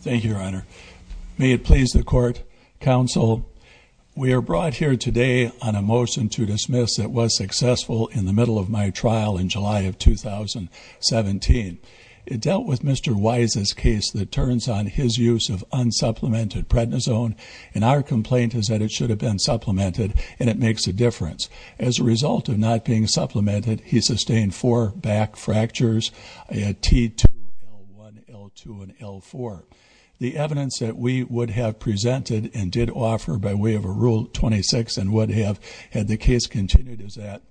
Thank you, Your Honor. May it please the Court, Counsel, we are brought here today on a motion to dismiss that was successful in the middle of my trial in July of 2017. It dealt with Mr. Wise's case that turns on his use of unsupplemented prednisone, and our complaint is that it should have been supplemented, and it makes a difference. As a result of not being supplemented, he L-1, L-2, and L-4. The evidence that we would have presented and did offer by way of a Rule 26 and would have had the case continued is that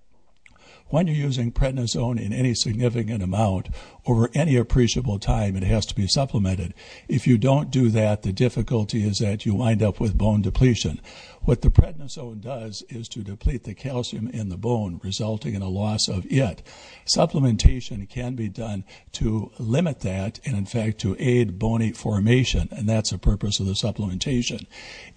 when you're using prednisone in any significant amount over any appreciable time, it has to be supplemented. If you don't do that, the difficulty is that you wind up with bone depletion. What the prednisone does is to deplete the limit that, and in fact to aid bony formation, and that's the purpose of the supplementation.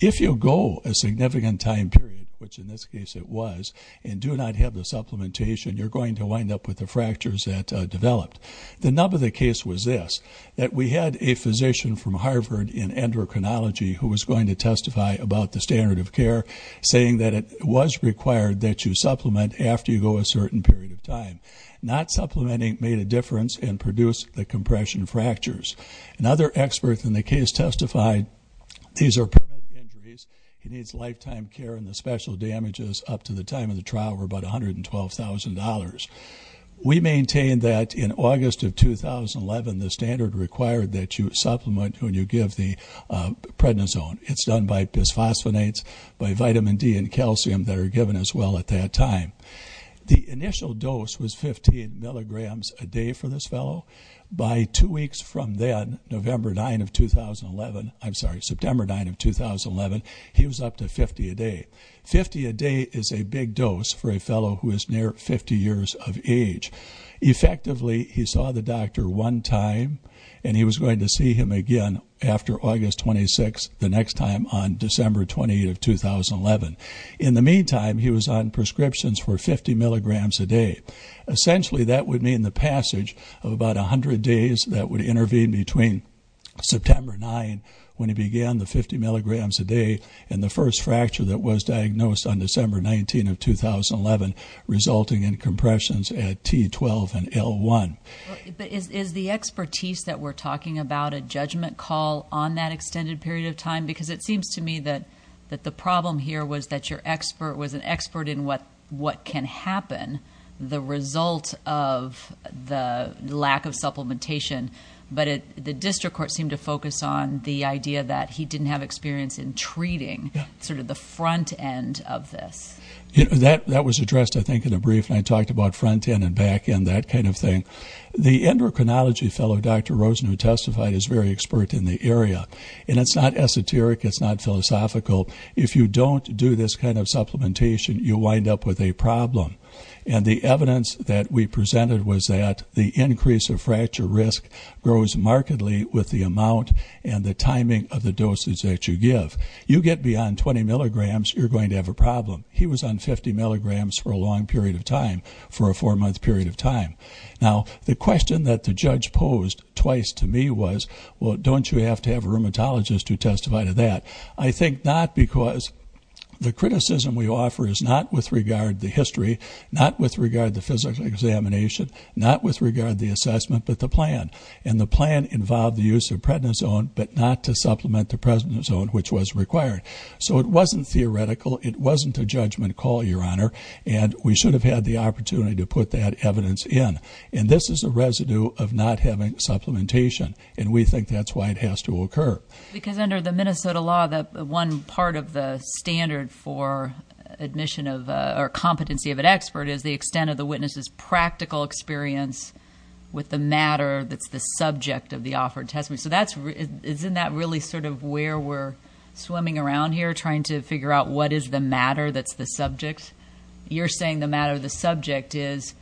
If you go a significant time period, which in this case it was, and do not have the supplementation, you're going to wind up with the fractures that developed. The nub of the case was this, that we had a physician from Harvard in endocrinology who was going to testify about the standard of care, saying that it was required that you supplement after you go a certain period of time. Not supplementing made a difference and produced the compression fractures. Another expert in the case testified, these are permanent injuries, he needs lifetime care and the special damages up to the time of the trial were about $112,000. We maintain that in August of 2011, the standard required that you supplement when you give the prednisone. It's done by bisphosphonates, by vitamin D and calcium that are given as well at that time. The initial dose was 15 milligrams a day for this fellow. By two weeks from then, November 9 of 2011, I'm sorry, September 9 of 2011, he was up to 50 a day. 50 a day is a big dose for a fellow who is near 50 years of age. Effectively, he saw the doctor one time and he was going to see him again after August 26, the next time on December 28 of 2011. In the meantime, he was on prescriptions for 50 milligrams a day. Essentially, that would mean the passage of about 100 days that would intervene between September 9 when he began the 50 milligrams a day and the first fracture that was diagnosed on December 19 of 2011, resulting in compressions at T12 and L1. But is the expertise that we're talking about a judgment call on that extended period of what can happen, the result of the lack of supplementation? But the district court seemed to focus on the idea that he didn't have experience in treating sort of the front end of this. That was addressed, I think, in a brief and I talked about front end and back end, that kind of thing. The endocrinology fellow, Dr. Rosen, who testified is very expert in the you wind up with a problem. And the evidence that we presented was that the increase of fracture risk grows markedly with the amount and the timing of the doses that you give. You get beyond 20 milligrams, you're going to have a problem. He was on 50 milligrams for a long period of time, for a four-month period of time. Now, the question that the judge posed twice to me was, well, don't you have to have a supplementation? The criticism we offer is not with regard to history, not with regard to physical examination, not with regard to the assessment, but the plan. And the plan involved the use of prednisone, but not to supplement the prednisone, which was required. So it wasn't theoretical. It wasn't a judgment call, Your Honor. And we should have had the opportunity to put that evidence in. And this is a residue of not having supplementation. And we think that's why it has to occur. Because under the Minnesota law, the one part of the standard for admission of, or competency of an expert is the extent of the witness's practical experience with the matter that's the subject of the offered testimony. So that's, isn't that really sort of where we're swimming around here, trying to figure out what is the matter that's the subject? You're saying the matter of the subject is,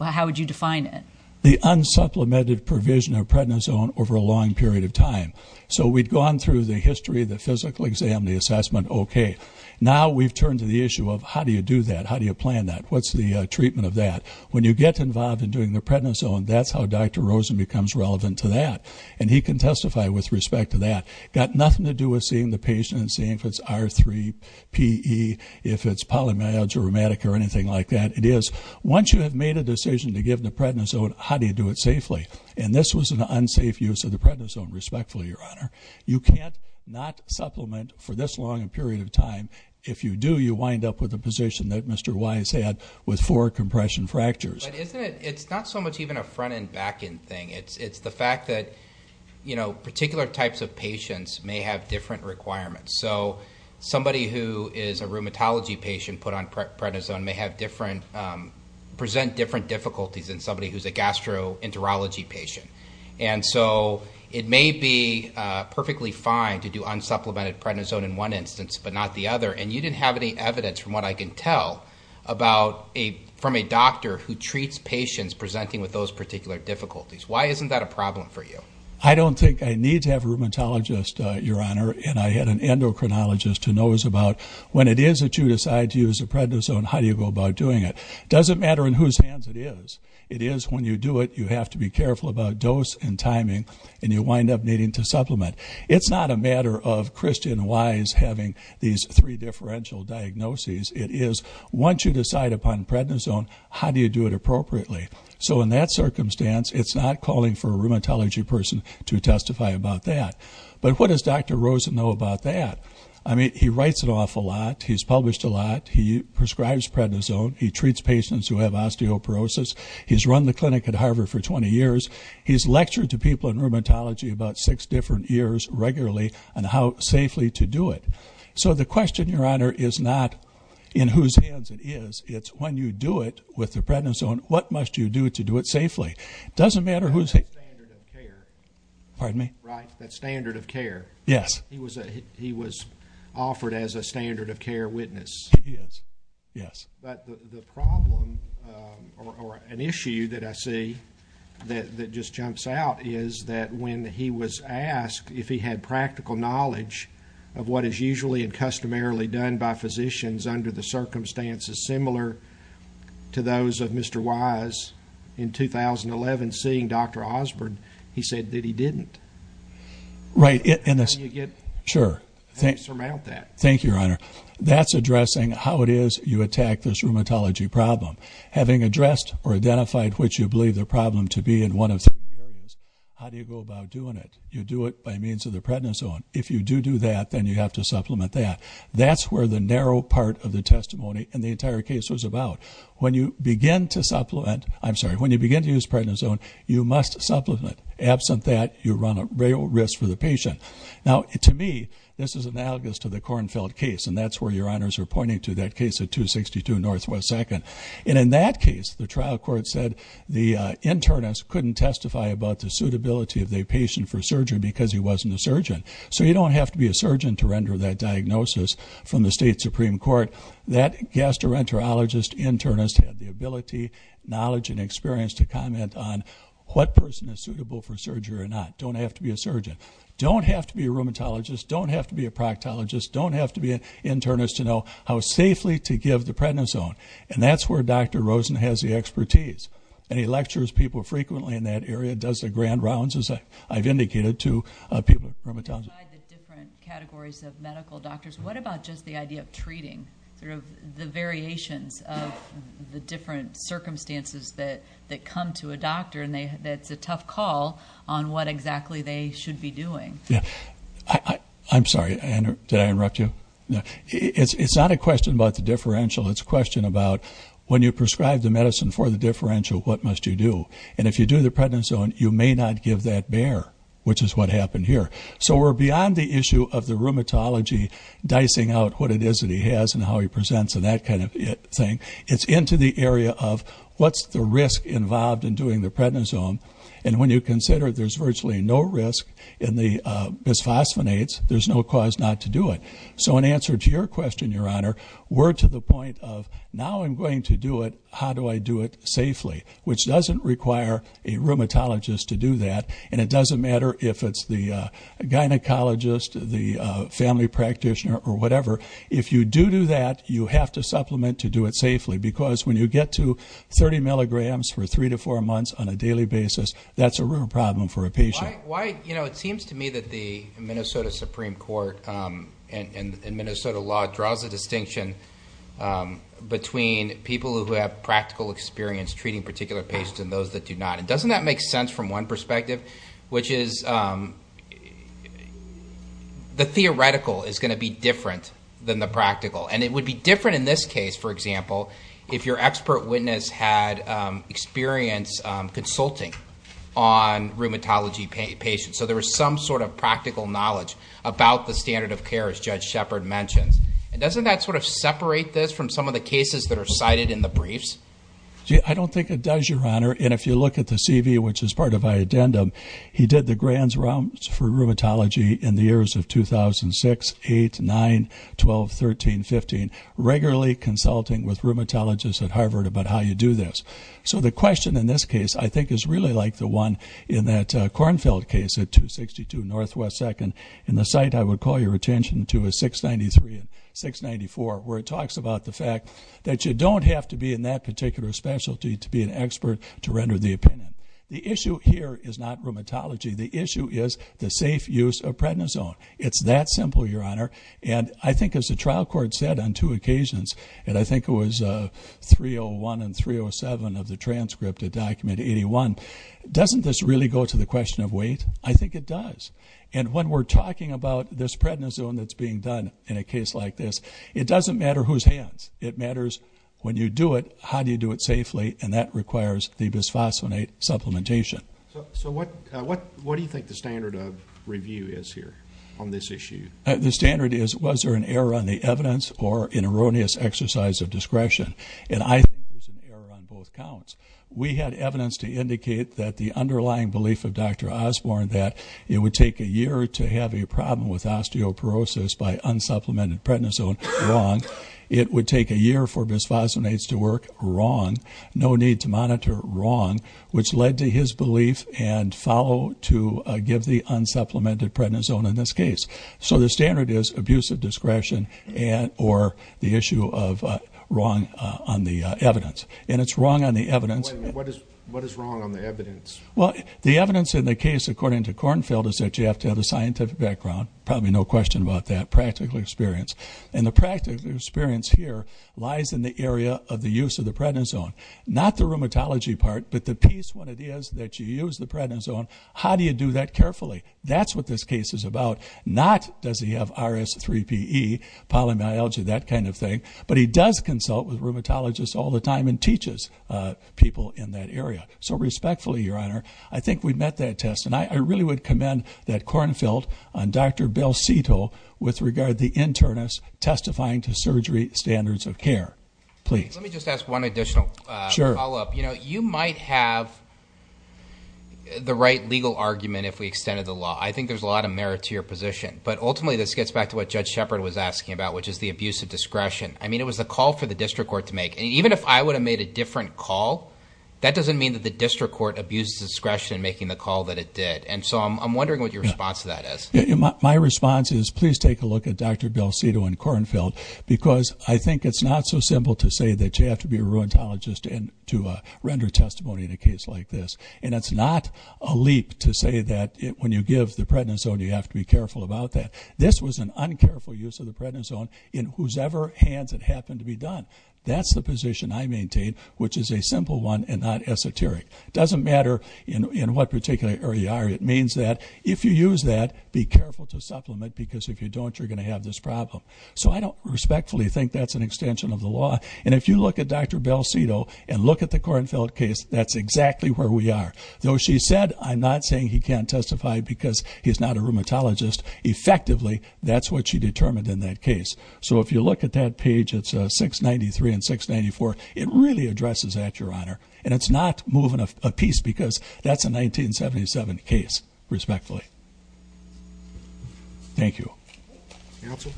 how would you define it? The unsupplemented provision of prednisone over a long period of time. So we'd gone through the history, the physical exam, the assessment, okay. Now we've turned to the issue of how do you do that? How do you plan that? What's the treatment of that? When you get involved in doing the prednisone, that's how Dr. Rosen becomes relevant to that. And he can testify with respect to that. Got nothing to do with seeing the patient and seeing if it's R3 PE, if it's polymyalgia rheumatic or anything like that. It is. Once you have made a decision to give the prednisone, how do you do it safely? And this was an unsafe use of the prednisone, respectfully, your honor. You can't not supplement for this long a period of time. If you do, you wind up with a position that Mr. Wise had with four compression fractures. It's not so much even a front and back end thing. It's the fact that, you know, particular types of patients may have different requirements. So somebody who is a rheumatology patient and put on prednisone may have different, present different difficulties than somebody who's a gastroenterology patient. And so it may be perfectly fine to do unsupplemented prednisone in one instance, but not the other. And you didn't have any evidence from what I can tell about a, from a doctor who treats patients presenting with those particular difficulties. Why isn't that a problem for you? I don't think I need to have a rheumatologist, your honor. And I had an endocrinologist who knows about when it is that you decide to use a prednisone, how do you go about doing it? It doesn't matter in whose hands it is. It is when you do it, you have to be careful about dose and timing and you wind up needing to supplement. It's not a matter of Christian Wise having these three differential diagnoses. It is once you decide upon prednisone, how do you do it appropriately? So in that circumstance, it's not calling for a rheumatology person to testify about that. But what does Dr. Rosen know about that? I mean, he writes an awful lot. He's published a lot. He prescribes prednisone. He treats patients who have osteoporosis. He's run the clinic at Harvard for 20 years. He's lectured to people in rheumatology about six different years regularly on how safely to do it. So the question, your honor, is not in whose hands it is. It's when you do it with the prednisone, what must you do to do it safely? It doesn't matter who's here. Pardon me? Right. That standard of care. Yes. He was he was offered as a standard of care witness. Yes. Yes. But the problem or an issue that I see that that just jumps out is that when he was asked if he had practical knowledge of what is usually and customarily done by physicians under the circumstances similar to those of Mr. Wise in 2011, seeing Dr. Osborne, he said that he didn't. Right. And that's how you get. Sure. Thank you, your honor. That's addressing how it is you attack this rheumatology problem. Having addressed or identified which you believe the problem to be in one of. How do you go about doing it? You do it by means of the prednisone. If you do do that, then you have to supplement that. That's where the narrow part of the testimony and the entire case was about. When you begin to supplement, I'm sorry, when you begin to use prednisone, you must supplement. Absent that, you run a real risk for the patient. Now, to me, this is analogous to the Kornfeld case, and that's where your honors are pointing to that case of 262 Northwest Second. And in that case, the trial court said the internist couldn't testify about the suitability of the patient for surgery because he wasn't a surgeon. So you don't have to be a surgeon to render that diagnosis from the state Supreme Court. That gastroenterologist internist had the ability, knowledge, and experience to comment on what person is suitable for surgery or not. Don't have to be a surgeon. Don't have to be a rheumatologist. Don't have to be a proctologist. Don't have to be an internist to know how safely to give the prednisone. And that's where Dr. Rosen has the expertise. And he lectures people frequently in that What about just the idea of treating sort of the variations of the different circumstances that come to a doctor, and that's a tough call on what exactly they should be doing? I'm sorry. Did I interrupt you? It's not a question about the differential. It's a question about when you prescribe the medicine for the differential, what must you do? And if you do the prednisone, you may not give that bear, which is what happened here. So we're dicing out what it is that he has and how he presents and that kind of thing. It's into the area of what's the risk involved in doing the prednisone. And when you consider there's virtually no risk in the bisphosphonates, there's no cause not to do it. So in answer to your question, Your Honor, we're to the point of now I'm going to do it. How do I do it safely? Which doesn't require a rheumatologist to do that. And it doesn't matter if it's the gynecologist, the family practitioner, or whatever. If you do do that, you have to supplement to do it safely. Because when you get to 30 milligrams for three to four months on a daily basis, that's a real problem for a patient. It seems to me that the Minnesota Supreme Court and Minnesota law draws a distinction between people who have practical experience treating particular patients and those that do not. Doesn't that make sense from one perspective, which is the theoretical is going to be different than the practical. And it would be different in this case, for example, if your expert witness had experience consulting on rheumatology patients. So there was some sort of practical knowledge about the standard of care, as Judge Shepard mentioned. Doesn't that sort of separate this from some of the cases that are cited in the briefs? I don't think it does, Your Honor. And if you look at the CV, which is part of my addendum, he did the grand rounds for rheumatology in the years of 2006, 8, 9, 12, 13, 15, regularly consulting with rheumatologists at Harvard about how you do this. So the question in this case, I think, is really like the one in that Kornfeld case at 262 Northwest 2nd. And the site I would call your attention to is 693 and 694, where it talks about the fact that you don't have to be in that particular specialty to be an expert to render the opinion. The issue here is not rheumatology. The issue is the safe use of prednisone. It's that simple, Your Honor. And I think as the trial court said on two occasions, and I think it was 301 and 307 of the transcript of Document 81, doesn't this really go to the question of weight? I think it does. And when we're talking about this prednisone that's being done in a case like this, it doesn't matter whose hands. It matters when you do it, how do you do it safely? And that requires the bisphosphonate supplementation. So what do you think the standard of review is here on this issue? The standard is, was there an error on the evidence or an erroneous exercise of discretion? And I think there's an error on both counts. We had evidence to indicate that the underlying belief of Dr. Osborne that it would take a year to have a problem with osteoporosis by unsupplemented prednisone. Wrong. It would take a year for bisphosphonates to work. Wrong. No need to monitor. Wrong. Which led to his belief and follow to give the unsupplemented prednisone in this case. So the standard is abusive discretion and or the issue of wrong on the evidence. And it's wrong on the evidence. What is wrong on the evidence? Well, the evidence in the case, according to Kornfeld, is that you have to have a scientific background. Probably no question about that. Practical experience. And the practical experience here lies in the area of the use of the prednisone. Not the rheumatology part, but the piece when it is that you use the prednisone, how do you do that carefully? That's what this case is about. Not does he have RS3PE, polymyalgia, that kind of thing. But he does consult with rheumatologists all the time and teaches people in that area. So respectfully, Your Honor, I think we've met that test. And I really would commend that Kornfeld on Dr. Belcito with regard to the internist testifying to surgery standards of care. Please. Let me just ask one additional follow up. You know, you might have the right legal argument if we extended the law. I think there's a lot of merit to your position. But ultimately, this gets back to what Judge Shepard was asking about, which is the abuse of discretion. I mean, it was a call for the district court to make. And even if I would have made a different call, that doesn't mean that the district court abuses discretion in making the call that it did. And so I'm wondering what your response to that is. My response is, please take a look at Dr. Belcito and Kornfeld, because I think it's not so simple to say that you have to be a rheumatologist to render testimony in a case like this. And it's not a leap to say that when you give the prednisone, you have to be careful about that. This was an uncareful use of the prednisone in whosoever hands it happened to be done. That's the position I maintain, which is a simple one and not esoteric. It doesn't matter in what particular area you are. It means that if you use that, be careful to supplement, because if you don't, you're going to have this problem. So I don't respectfully think that's an extension of the law. And if you look at Dr. Belcito and look at the Kornfeld case, that's exactly where we are. Though she said, I'm not saying he can't testify because he's not a rheumatologist, effectively, that's what she determined in that case. So if you look at that page, it's 693 and 694. It really addresses that, Your Honor, a piece, because that's a 1977 case, respectfully. Thank you. Counsel?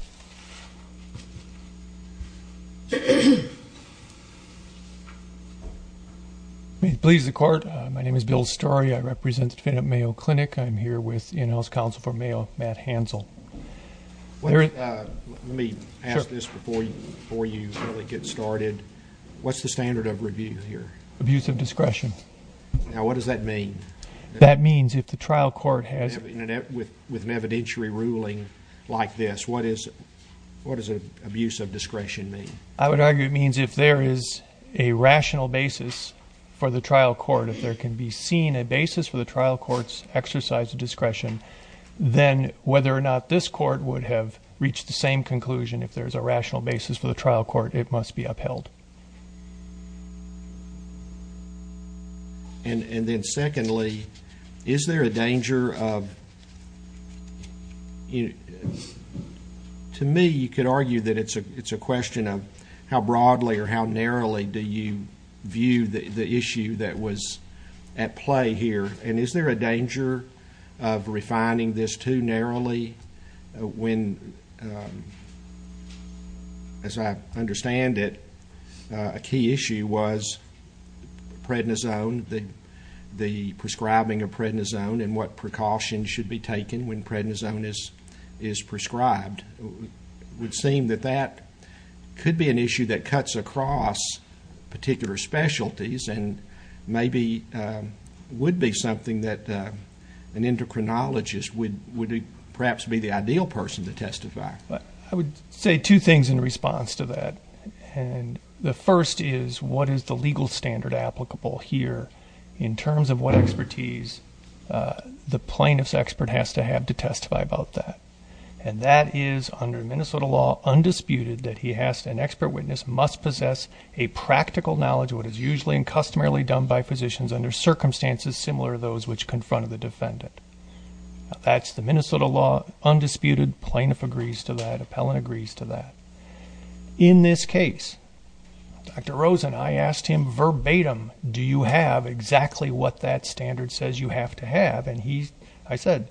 If it pleases the court, my name is Bill Starry. I represent the defendant, Mayo Clinic. I'm here with the in-house counsel for Mayo, Matt Hansel. Let me ask this before you really get started. What's the standard of review here? Abuse of discretion. Now, what does that mean? That means if the trial court has... With an evidentiary ruling like this, what does abuse of discretion mean? I would argue it means if there is a rational basis for the trial court, if there can be seen a basis for the trial court's exercise of discretion, then whether or not this court would have reached the same conclusion, if there's a rational basis for the trial court, it must be upheld. And then secondly, is there a danger of... To me, you could argue that it's a question of how broadly or how narrowly do you view the issue that was at play here, and is there a danger of refining this too narrowly when, as I understand it, a key issue was prednisone, the prescribing of prednisone, and what precautions should be taken when prednisone is prescribed. It would seem that that could be an issue that cuts across particular specialties and maybe would be something that an endocrinologist would perhaps be the ideal person to testify. I would say two things in response to that. The first is, what is the legal standard applicable here in terms of what expertise the plaintiff's expert has to have to testify about that? And that is, under Minnesota law, undisputed that an expert witness must possess a practical knowledge of what is usually and customarily done by physicians under circumstances similar to those which confront the defendant. That's the Minnesota law, undisputed, plaintiff agrees to that, appellant agrees to that. In this case, Dr. Rosen, I asked him verbatim, do you have exactly what that standard says you have to have? And I said,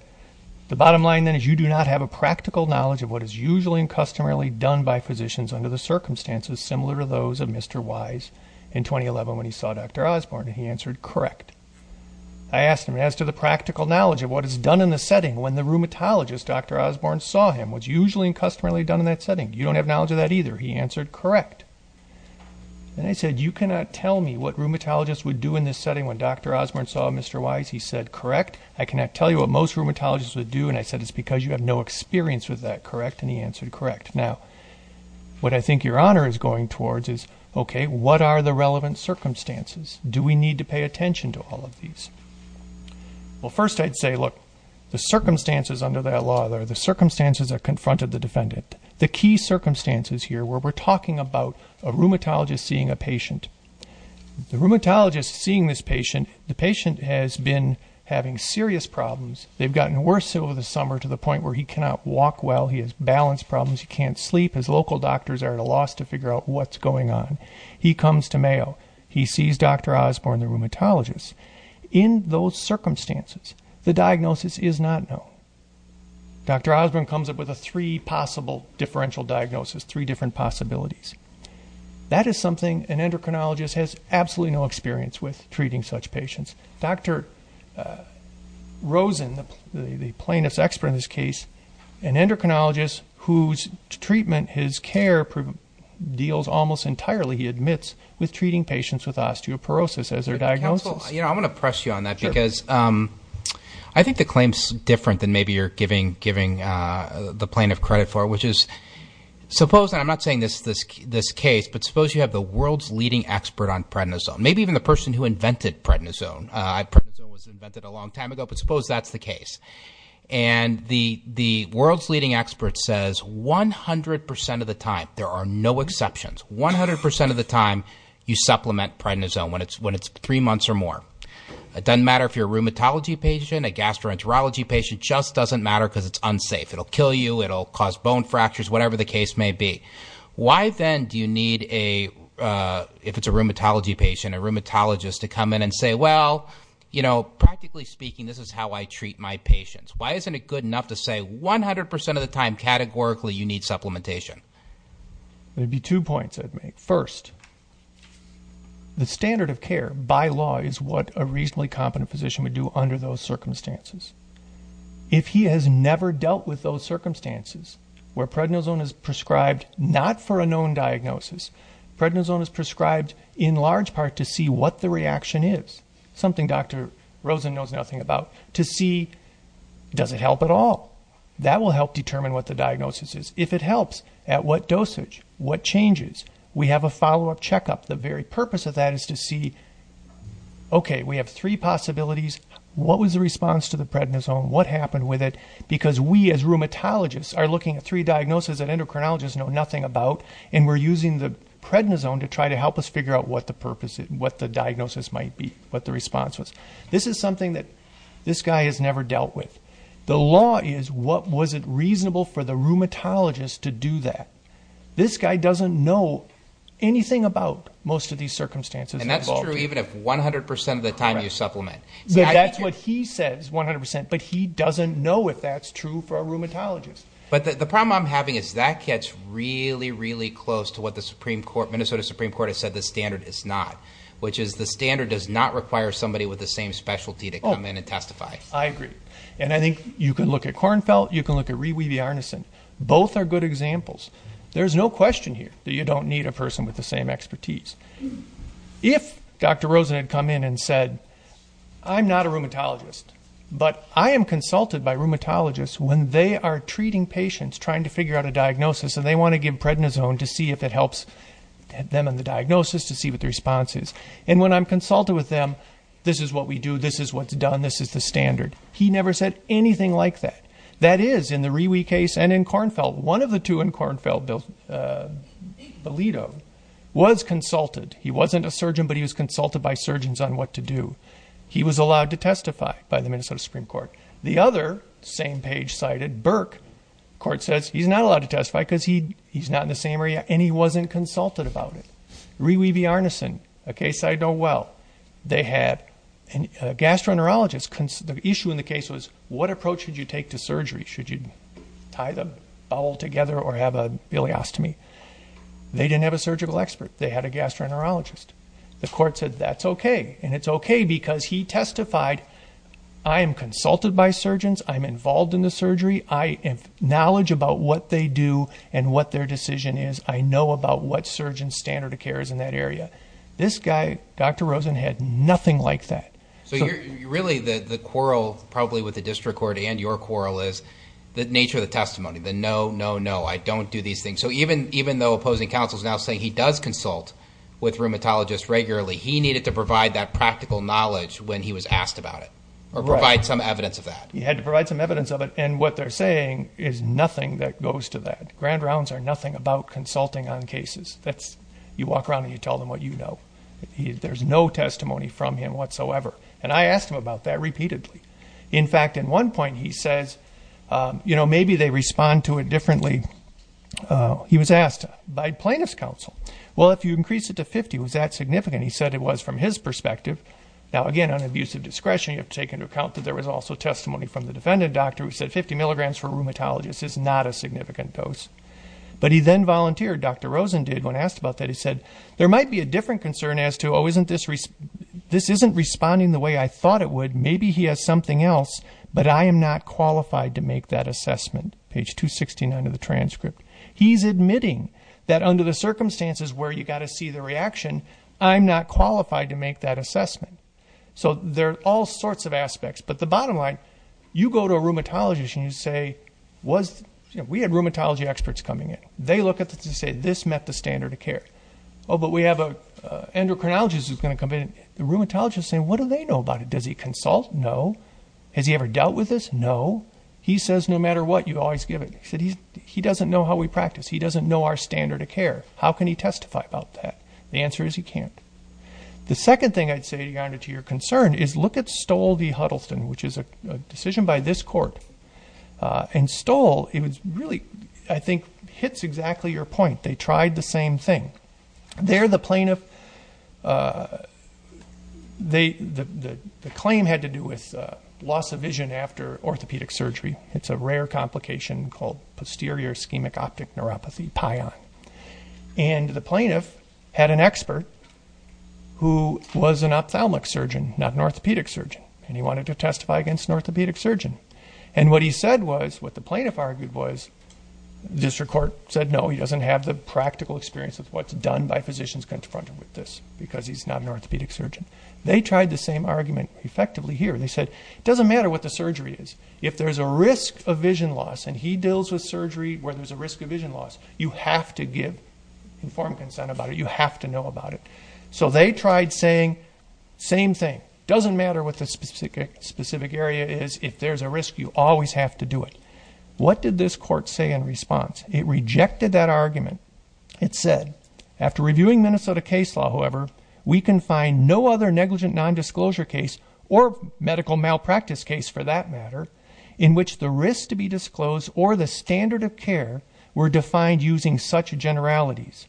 the bottom line then is you do not have a practical knowledge of what is usually and customarily done by physicians under the circumstances similar to those of Mr. Wise in 2011 when he saw Dr. Osborne, and he answered, correct. I asked him, as to the practical knowledge of what is done in the setting when the rheumatologist, Dr. Osborne, saw him, what's usually and customarily done in that setting? You don't have knowledge of that either. He answered, correct. And I said, you cannot tell me what rheumatologists would do in this setting when Dr. Osborne saw Mr. Wise. He said, correct. I cannot tell you what most rheumatologists would do, and I said, it's because you have no experience with that, correct, and he answered, correct. Now, what I think your honor is going towards is, okay, what are the relevant circumstances? Do we need to pay attention to all of these? Well, first I'd say, look, the circumstances under that law, the circumstances that confronted the defendant, the key circumstances here where we're talking about a rheumatologist seeing a patient, the rheumatologist seeing this patient, the patient has been having serious problems. They've gotten worse over the summer to the point where he cannot walk well. He has balance problems. He can't sleep. His local doctors are at a loss to figure out what's going on. He comes to Mayo. He sees Dr. Osborne, the rheumatologist. In those circumstances, the diagnosis is not known. Dr. Osborne comes up with a three possible differential diagnosis, three different possibilities. That is something an endocrinologist has absolutely no experience with treating such patients. Dr. Rosen, the plaintiff's expert in this case, an endocrinologist whose treatment, his care deals almost entirely, he admits, with treating patients with osteoporosis as their diagnosis. I want to press you on that because I think the claim's different than maybe you're giving the plaintiff credit for, which is suppose, and I'm not saying this case, but suppose you have the world's leading expert on prednisone, maybe even the person who invented prednisone. Prednisone was invented a long time ago, but suppose that's the case. The world's leading expert says 100% of the time, there are no exceptions, 100% of the time, you supplement prednisone when it's three months or more. It doesn't matter if you're a rheumatology patient, a gastroenterology patient, just doesn't matter because it's unsafe. It'll kill you. It'll cause bone fractures, whatever the case may be. Why then do you need a, if it's a rheumatology patient, a rheumatologist to come in and say, well, you know, practically speaking, this is how I treat my patients. Why isn't it good enough to say 100% of the time, categorically, you need supplementation? There'd be two points I'd make. First, the standard of care by law is what a reasonably competent physician would do under those circumstances. If he has never dealt with those circumstances where prednisone is prescribed, not for a known diagnosis, prednisone is prescribed in large part to see what the reaction is. Something Dr. Rosen knows nothing about. To see, does it help at all? That will help determine what the diagnosis is. If it helps, at what dosage? What changes? We have a follow-up checkup. The very purpose of that is to see, okay, we have three possibilities. What was the response to the prednisone? What happened with it? Because we, as rheumatologists, are looking at three diagnoses that endocrinologists know nothing about, and we're using the prednisone to try to help us figure out what the purpose is, what the diagnosis might be, what the response was. This is something that this guy has never dealt with. The law is, what was it reasonable for the rheumatologist to do that? This guy doesn't know anything about most of these circumstances. That's true even if 100% of the time you supplement. That's what he says, 100%, but he doesn't know if that's true for a rheumatologist. The problem I'm having is that gets really, really close to what the Minnesota Supreme Court has said the standard is not, which is the standard does not require somebody with the same specialty to come in and testify. I agree. I think you can look at Kornfeldt, you can look at Ree Weavey-Arneson. Both are good examples. There's no question here that you don't need a person with the same expertise. If Dr. Rosen had come in and said, I'm not a rheumatologist, but I am consulted by rheumatologists when they are treating patients trying to figure out a diagnosis and they want to give prednisone to see if it helps them in the diagnosis to see what the response is, and when I'm consulted with them, this is what we do, this is what's done, this is the standard. He never said anything like that. That is, in the Ree Weavey case and in Kornfeldt, one of the two in Kornfeldt, Belito, was consulted. He wasn't a surgeon, but he was consulted by surgeons on what to do. He was allowed to testify by the Minnesota Supreme Court. The other, same page cited, Burke, the court says he's not allowed to testify because he's not in the same area and he wasn't consulted about it. Ree Weavey-Arneson, a case I know well, they had a gastroenterologist, the issue in the surgery, should you tie the bowel together or have a biliostomy. They didn't have a surgical expert, they had a gastroenterologist. The court said that's okay, and it's okay because he testified, I am consulted by surgeons, I'm involved in the surgery, I have knowledge about what they do and what their decision is, I know about what surgeon's standard of care is in that area. This guy, Dr. Rosen, had nothing like that. So you're really, the quarrel probably with the district court and your quarrel is the nature of the testimony, the no, no, no, I don't do these things. So even though opposing counsel is now saying he does consult with rheumatologists regularly, he needed to provide that practical knowledge when he was asked about it, or provide some evidence of that. Right. He had to provide some evidence of it, and what they're saying is nothing that goes to that. Grand rounds are nothing about consulting on cases. You walk around and you tell them what you know. There's no testimony from him whatsoever. And I asked him about that repeatedly. In fact, at one point he says, you know, maybe they respond to it differently. He was asked by plaintiff's counsel, well, if you increase it to 50, was that significant? He said it was from his perspective. Now again, on abuse of discretion, you have to take into account that there was also testimony from the defendant doctor who said 50 milligrams for rheumatologists is not a significant dose. But he then volunteered, Dr. Rosen did, when asked about that, he said, there might be a different concern as to, oh, this isn't responding the way I thought it would. Maybe he has something else, but I am not qualified to make that assessment. Page 269 of the transcript. He's admitting that under the circumstances where you've got to see the reaction, I'm not qualified to make that assessment. So there are all sorts of aspects. But the bottom line, you go to a rheumatologist and you say, we had rheumatology experts coming They look at this and say, this met the standard of care. Oh, but we have an endocrinologist who's going to come in. The rheumatologist is saying, what do they know about it? Does he consult? No. Has he ever dealt with this? No. He says, no matter what, you always give it. He doesn't know how we practice. He doesn't know our standard of care. How can he testify about that? The answer is he can't. The second thing I'd say, Your Honor, to your concern is look at Stoll v. Huddleston, which is a decision by this court. And Stoll, it was really, I think, hits exactly your point. They tried the same thing. There the plaintiff, the claim had to do with loss of vision after orthopedic surgery. It's a rare complication called posterior ischemic optic neuropathy, PION. And the plaintiff had an expert who was an ophthalmic surgeon, not an orthopedic surgeon. And he wanted to testify against an orthopedic surgeon. And what he said was, what the plaintiff argued was, the district court said, no, he doesn't have the practical experience of what's done by physicians confronted with this because he's not an orthopedic surgeon. They tried the same argument effectively here. They said, it doesn't matter what the surgery is. If there's a risk of vision loss, and he deals with surgery where there's a risk of vision loss, you have to give informed consent about it. You have to know about it. So they tried saying, same thing. Doesn't matter what the specific area is. If there's a risk, you always have to do it. What did this court say in response? It rejected that argument. It said, after reviewing Minnesota case law, however, we can find no other negligent nondisclosure case or medical malpractice case, for that matter, in which the risk to be disclosed or the standard of care were defined using such generalities.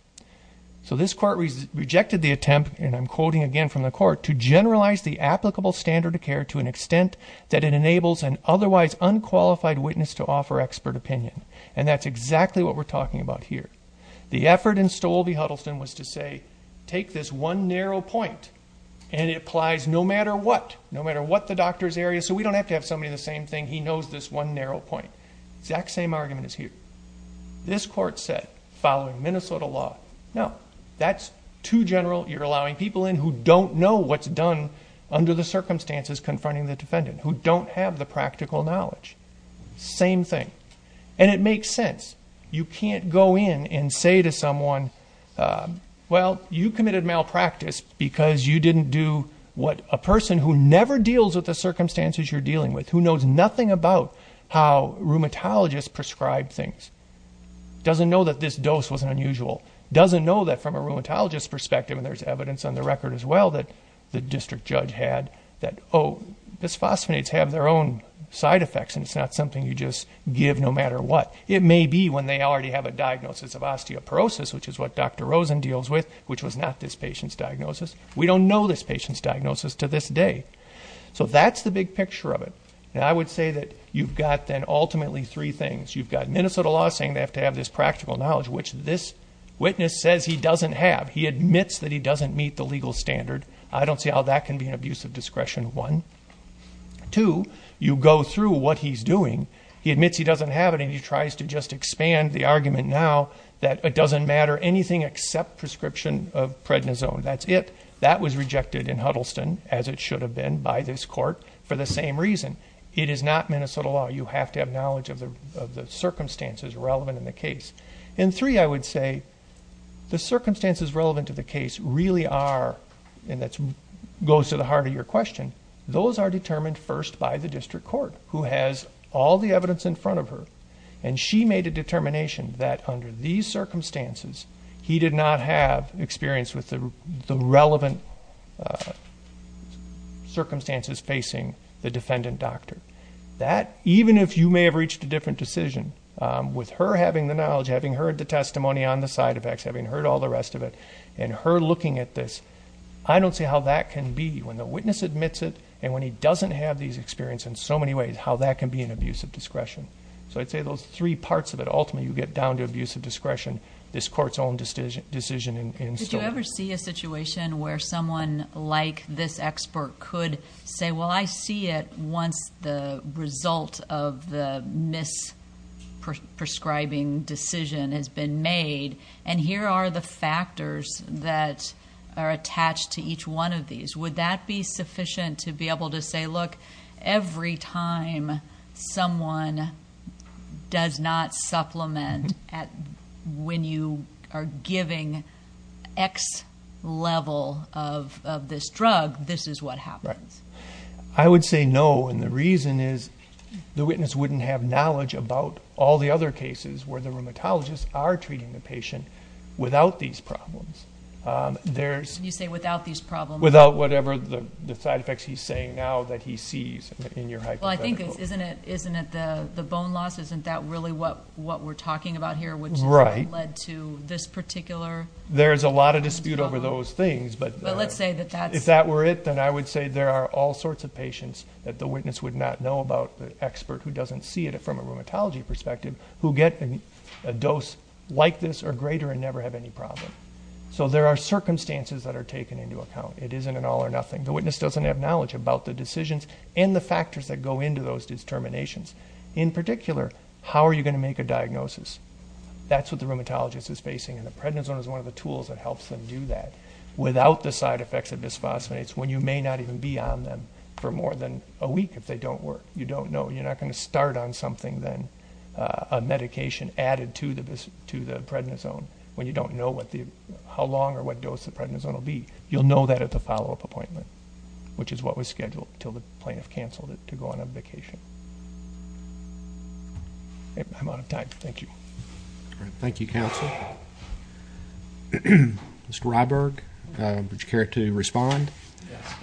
So this court rejected the attempt, and I'm quoting again from the court, to generalize the applicable standard of care to an extent that it enables an otherwise unqualified witness to offer expert opinion. And that's exactly what we're talking about here. The effort in Stolbe-Huddleston was to say, take this one narrow point, and it applies no matter what, no matter what the doctor's area, so we don't have to have somebody in the same thing. He knows this one narrow point. The exact same argument is here. This court said, following Minnesota law, no, that's too general. You're allowing people in who don't know what's done under the circumstances confronting the defendant, who don't have the practical knowledge. Same thing. And it makes sense. You can't go in and say to someone, well, you committed malpractice because you didn't do what a person who never deals with the circumstances you're dealing with, who knows nothing about how rheumatologists prescribe things, doesn't know that this dose was unusual, doesn't know that from a rheumatologist's perspective, and there's evidence on the record as well that the district judge had, that, oh, bisphosphonates have their own side effects and it's not something you just give no matter what. It may be when they already have a diagnosis of osteoporosis, which is what Dr. Rosen deals with, which was not this patient's diagnosis. We don't know this patient's diagnosis to this day. So that's the big picture of it. And I would say that you've got then ultimately three things. You've got Minnesota law saying they have to have this practical knowledge, which this witness says he doesn't have. He admits that he doesn't meet the legal standard. I don't see how that can be an abuse of discretion, one. Two, you go through what he's doing. He admits he doesn't have it and he tries to just expand the argument now that it doesn't matter anything except prescription of prednisone. That's it. That was rejected in Huddleston, as it should have been, by this court for the same reason. It is not Minnesota law. You have to have knowledge of the circumstances relevant in the case. And three, I would say the circumstances relevant to the case really are, and that goes to the question, those are determined first by the district court, who has all the evidence in front of her. And she made a determination that under these circumstances, he did not have experience with the relevant circumstances facing the defendant doctor. That even if you may have reached a different decision, with her having the knowledge, having heard the testimony on the side effects, having heard all the rest of it, and her looking at this, I don't see how that can be, when the witness admits it, and when he doesn't have these experiences in so many ways, how that can be an abuse of discretion. So I'd say those three parts of it, ultimately you get down to abuse of discretion. This court's own decision in store. Did you ever see a situation where someone like this expert could say, well, I see it once the result of the misprescribing decision has been made, and here are the factors that are attached to each one of these. Would that be sufficient to be able to say, look, every time someone does not supplement at when you are giving X level of this drug, this is what happens. I would say no, and the reason is the witness wouldn't have knowledge about all the other cases where the rheumatologist are treating the patient without these problems. You say without these problems. Without whatever the side effects he's saying now that he sees in your hypothetical. Well, I think, isn't it the bone loss? Isn't that really what we're talking about here, which led to this particular? There's a lot of dispute over those things, but if that were it, then I would say there are all sorts of patients that the witness would not know about, the expert who doesn't see it from a rheumatology perspective, who get a dose like this or greater and never have any problem. So there are circumstances that are taken into account. It isn't an all or nothing. The witness doesn't have knowledge about the decisions and the factors that go into those determinations. In particular, how are you going to make a diagnosis? That's what the rheumatologist is facing, and the prednisone is one of the tools that helps them do that without the side effects of bisphosphonates when you may not even be on them for more than a week if they don't work. You don't know. You may be on something then, a medication added to the prednisone, when you don't know how long or what dose the prednisone will be. You'll know that at the follow-up appointment, which is what was scheduled until the plaintiff canceled it to go on a vacation. I'm out of time. Thank you. All right. Thank you, counsel. Mr. Ryberg, would you care to respond?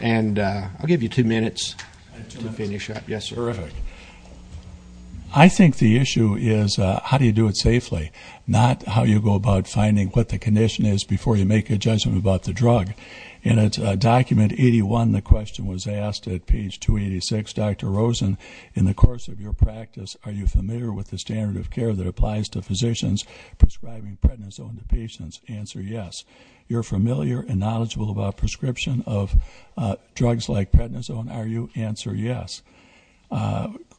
And I'll give you two minutes to finish up. Yes, sir. Mr. Ryberg. I think the issue is how do you do it safely, not how you go about finding what the condition is before you make a judgment about the drug. In document 81, the question was asked at page 286, Dr. Rosen, in the course of your practice, are you familiar with the standard of care that applies to physicians prescribing prednisone to patients? Answer yes. You're familiar and knowledgeable about prescription of drugs like prednisone, are you? Answer yes.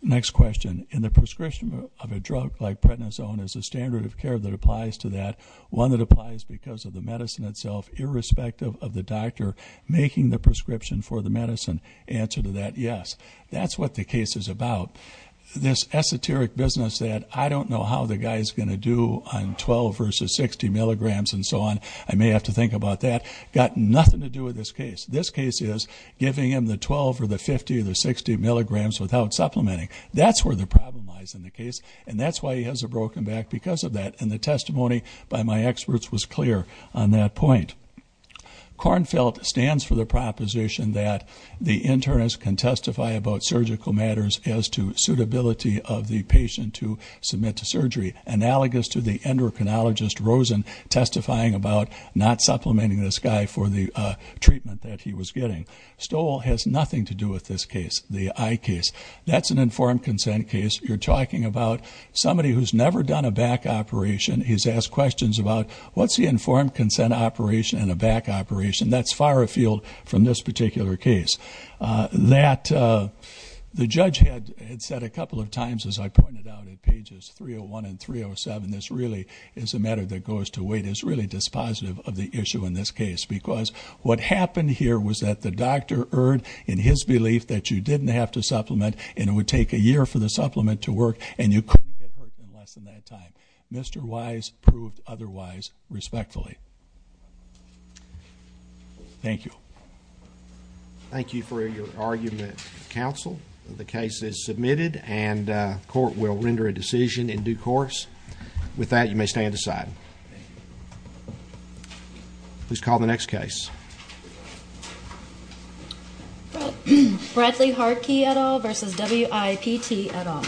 Next question. In the prescription of a drug like prednisone, is there a standard of care that applies to that? One that applies because of the medicine itself, irrespective of the doctor making the prescription for the medicine. Answer to that, yes. That's what the case is about. This esoteric business that I don't know how the guy's going to do on 12 versus 60 milligrams and so on, I may have to think about that, got nothing to do with this case. This case is giving him the 12 or the 50 or the 60 milligrams without supplementing. That's where the problem lies in the case, and that's why he has a broken back because of that, and the testimony by my experts was clear on that point. Kornfeldt stands for the proposition that the internist can testify about surgical matters as to suitability of the patient to submit to surgery, analogous to the endocrinologist Rosen testifying about not supplementing this guy for the treatment that he was getting. Stowell has nothing to do with this case, the eye case. That's an informed consent case. You're talking about somebody who's never done a back operation. He's asked questions about what's the informed consent operation and a back operation. That's far afield from this particular case. The judge had said a couple of times, as I pointed out at pages 301 and 307, this really is a matter that goes to weight, is really dispositive of the issue in this case, because what happened here was that the doctor erred in his belief that you didn't have to supplement and it would take a year for the supplement to work and you couldn't get hurt in less than that time. Mr. Wise proved otherwise respectfully. Thank you. Thank you for your argument, counsel. The case is submitted and court will render a decision in due course. With that, you may stand aside. Please call the next case. Bradley Harkey et al. versus WIPT et al.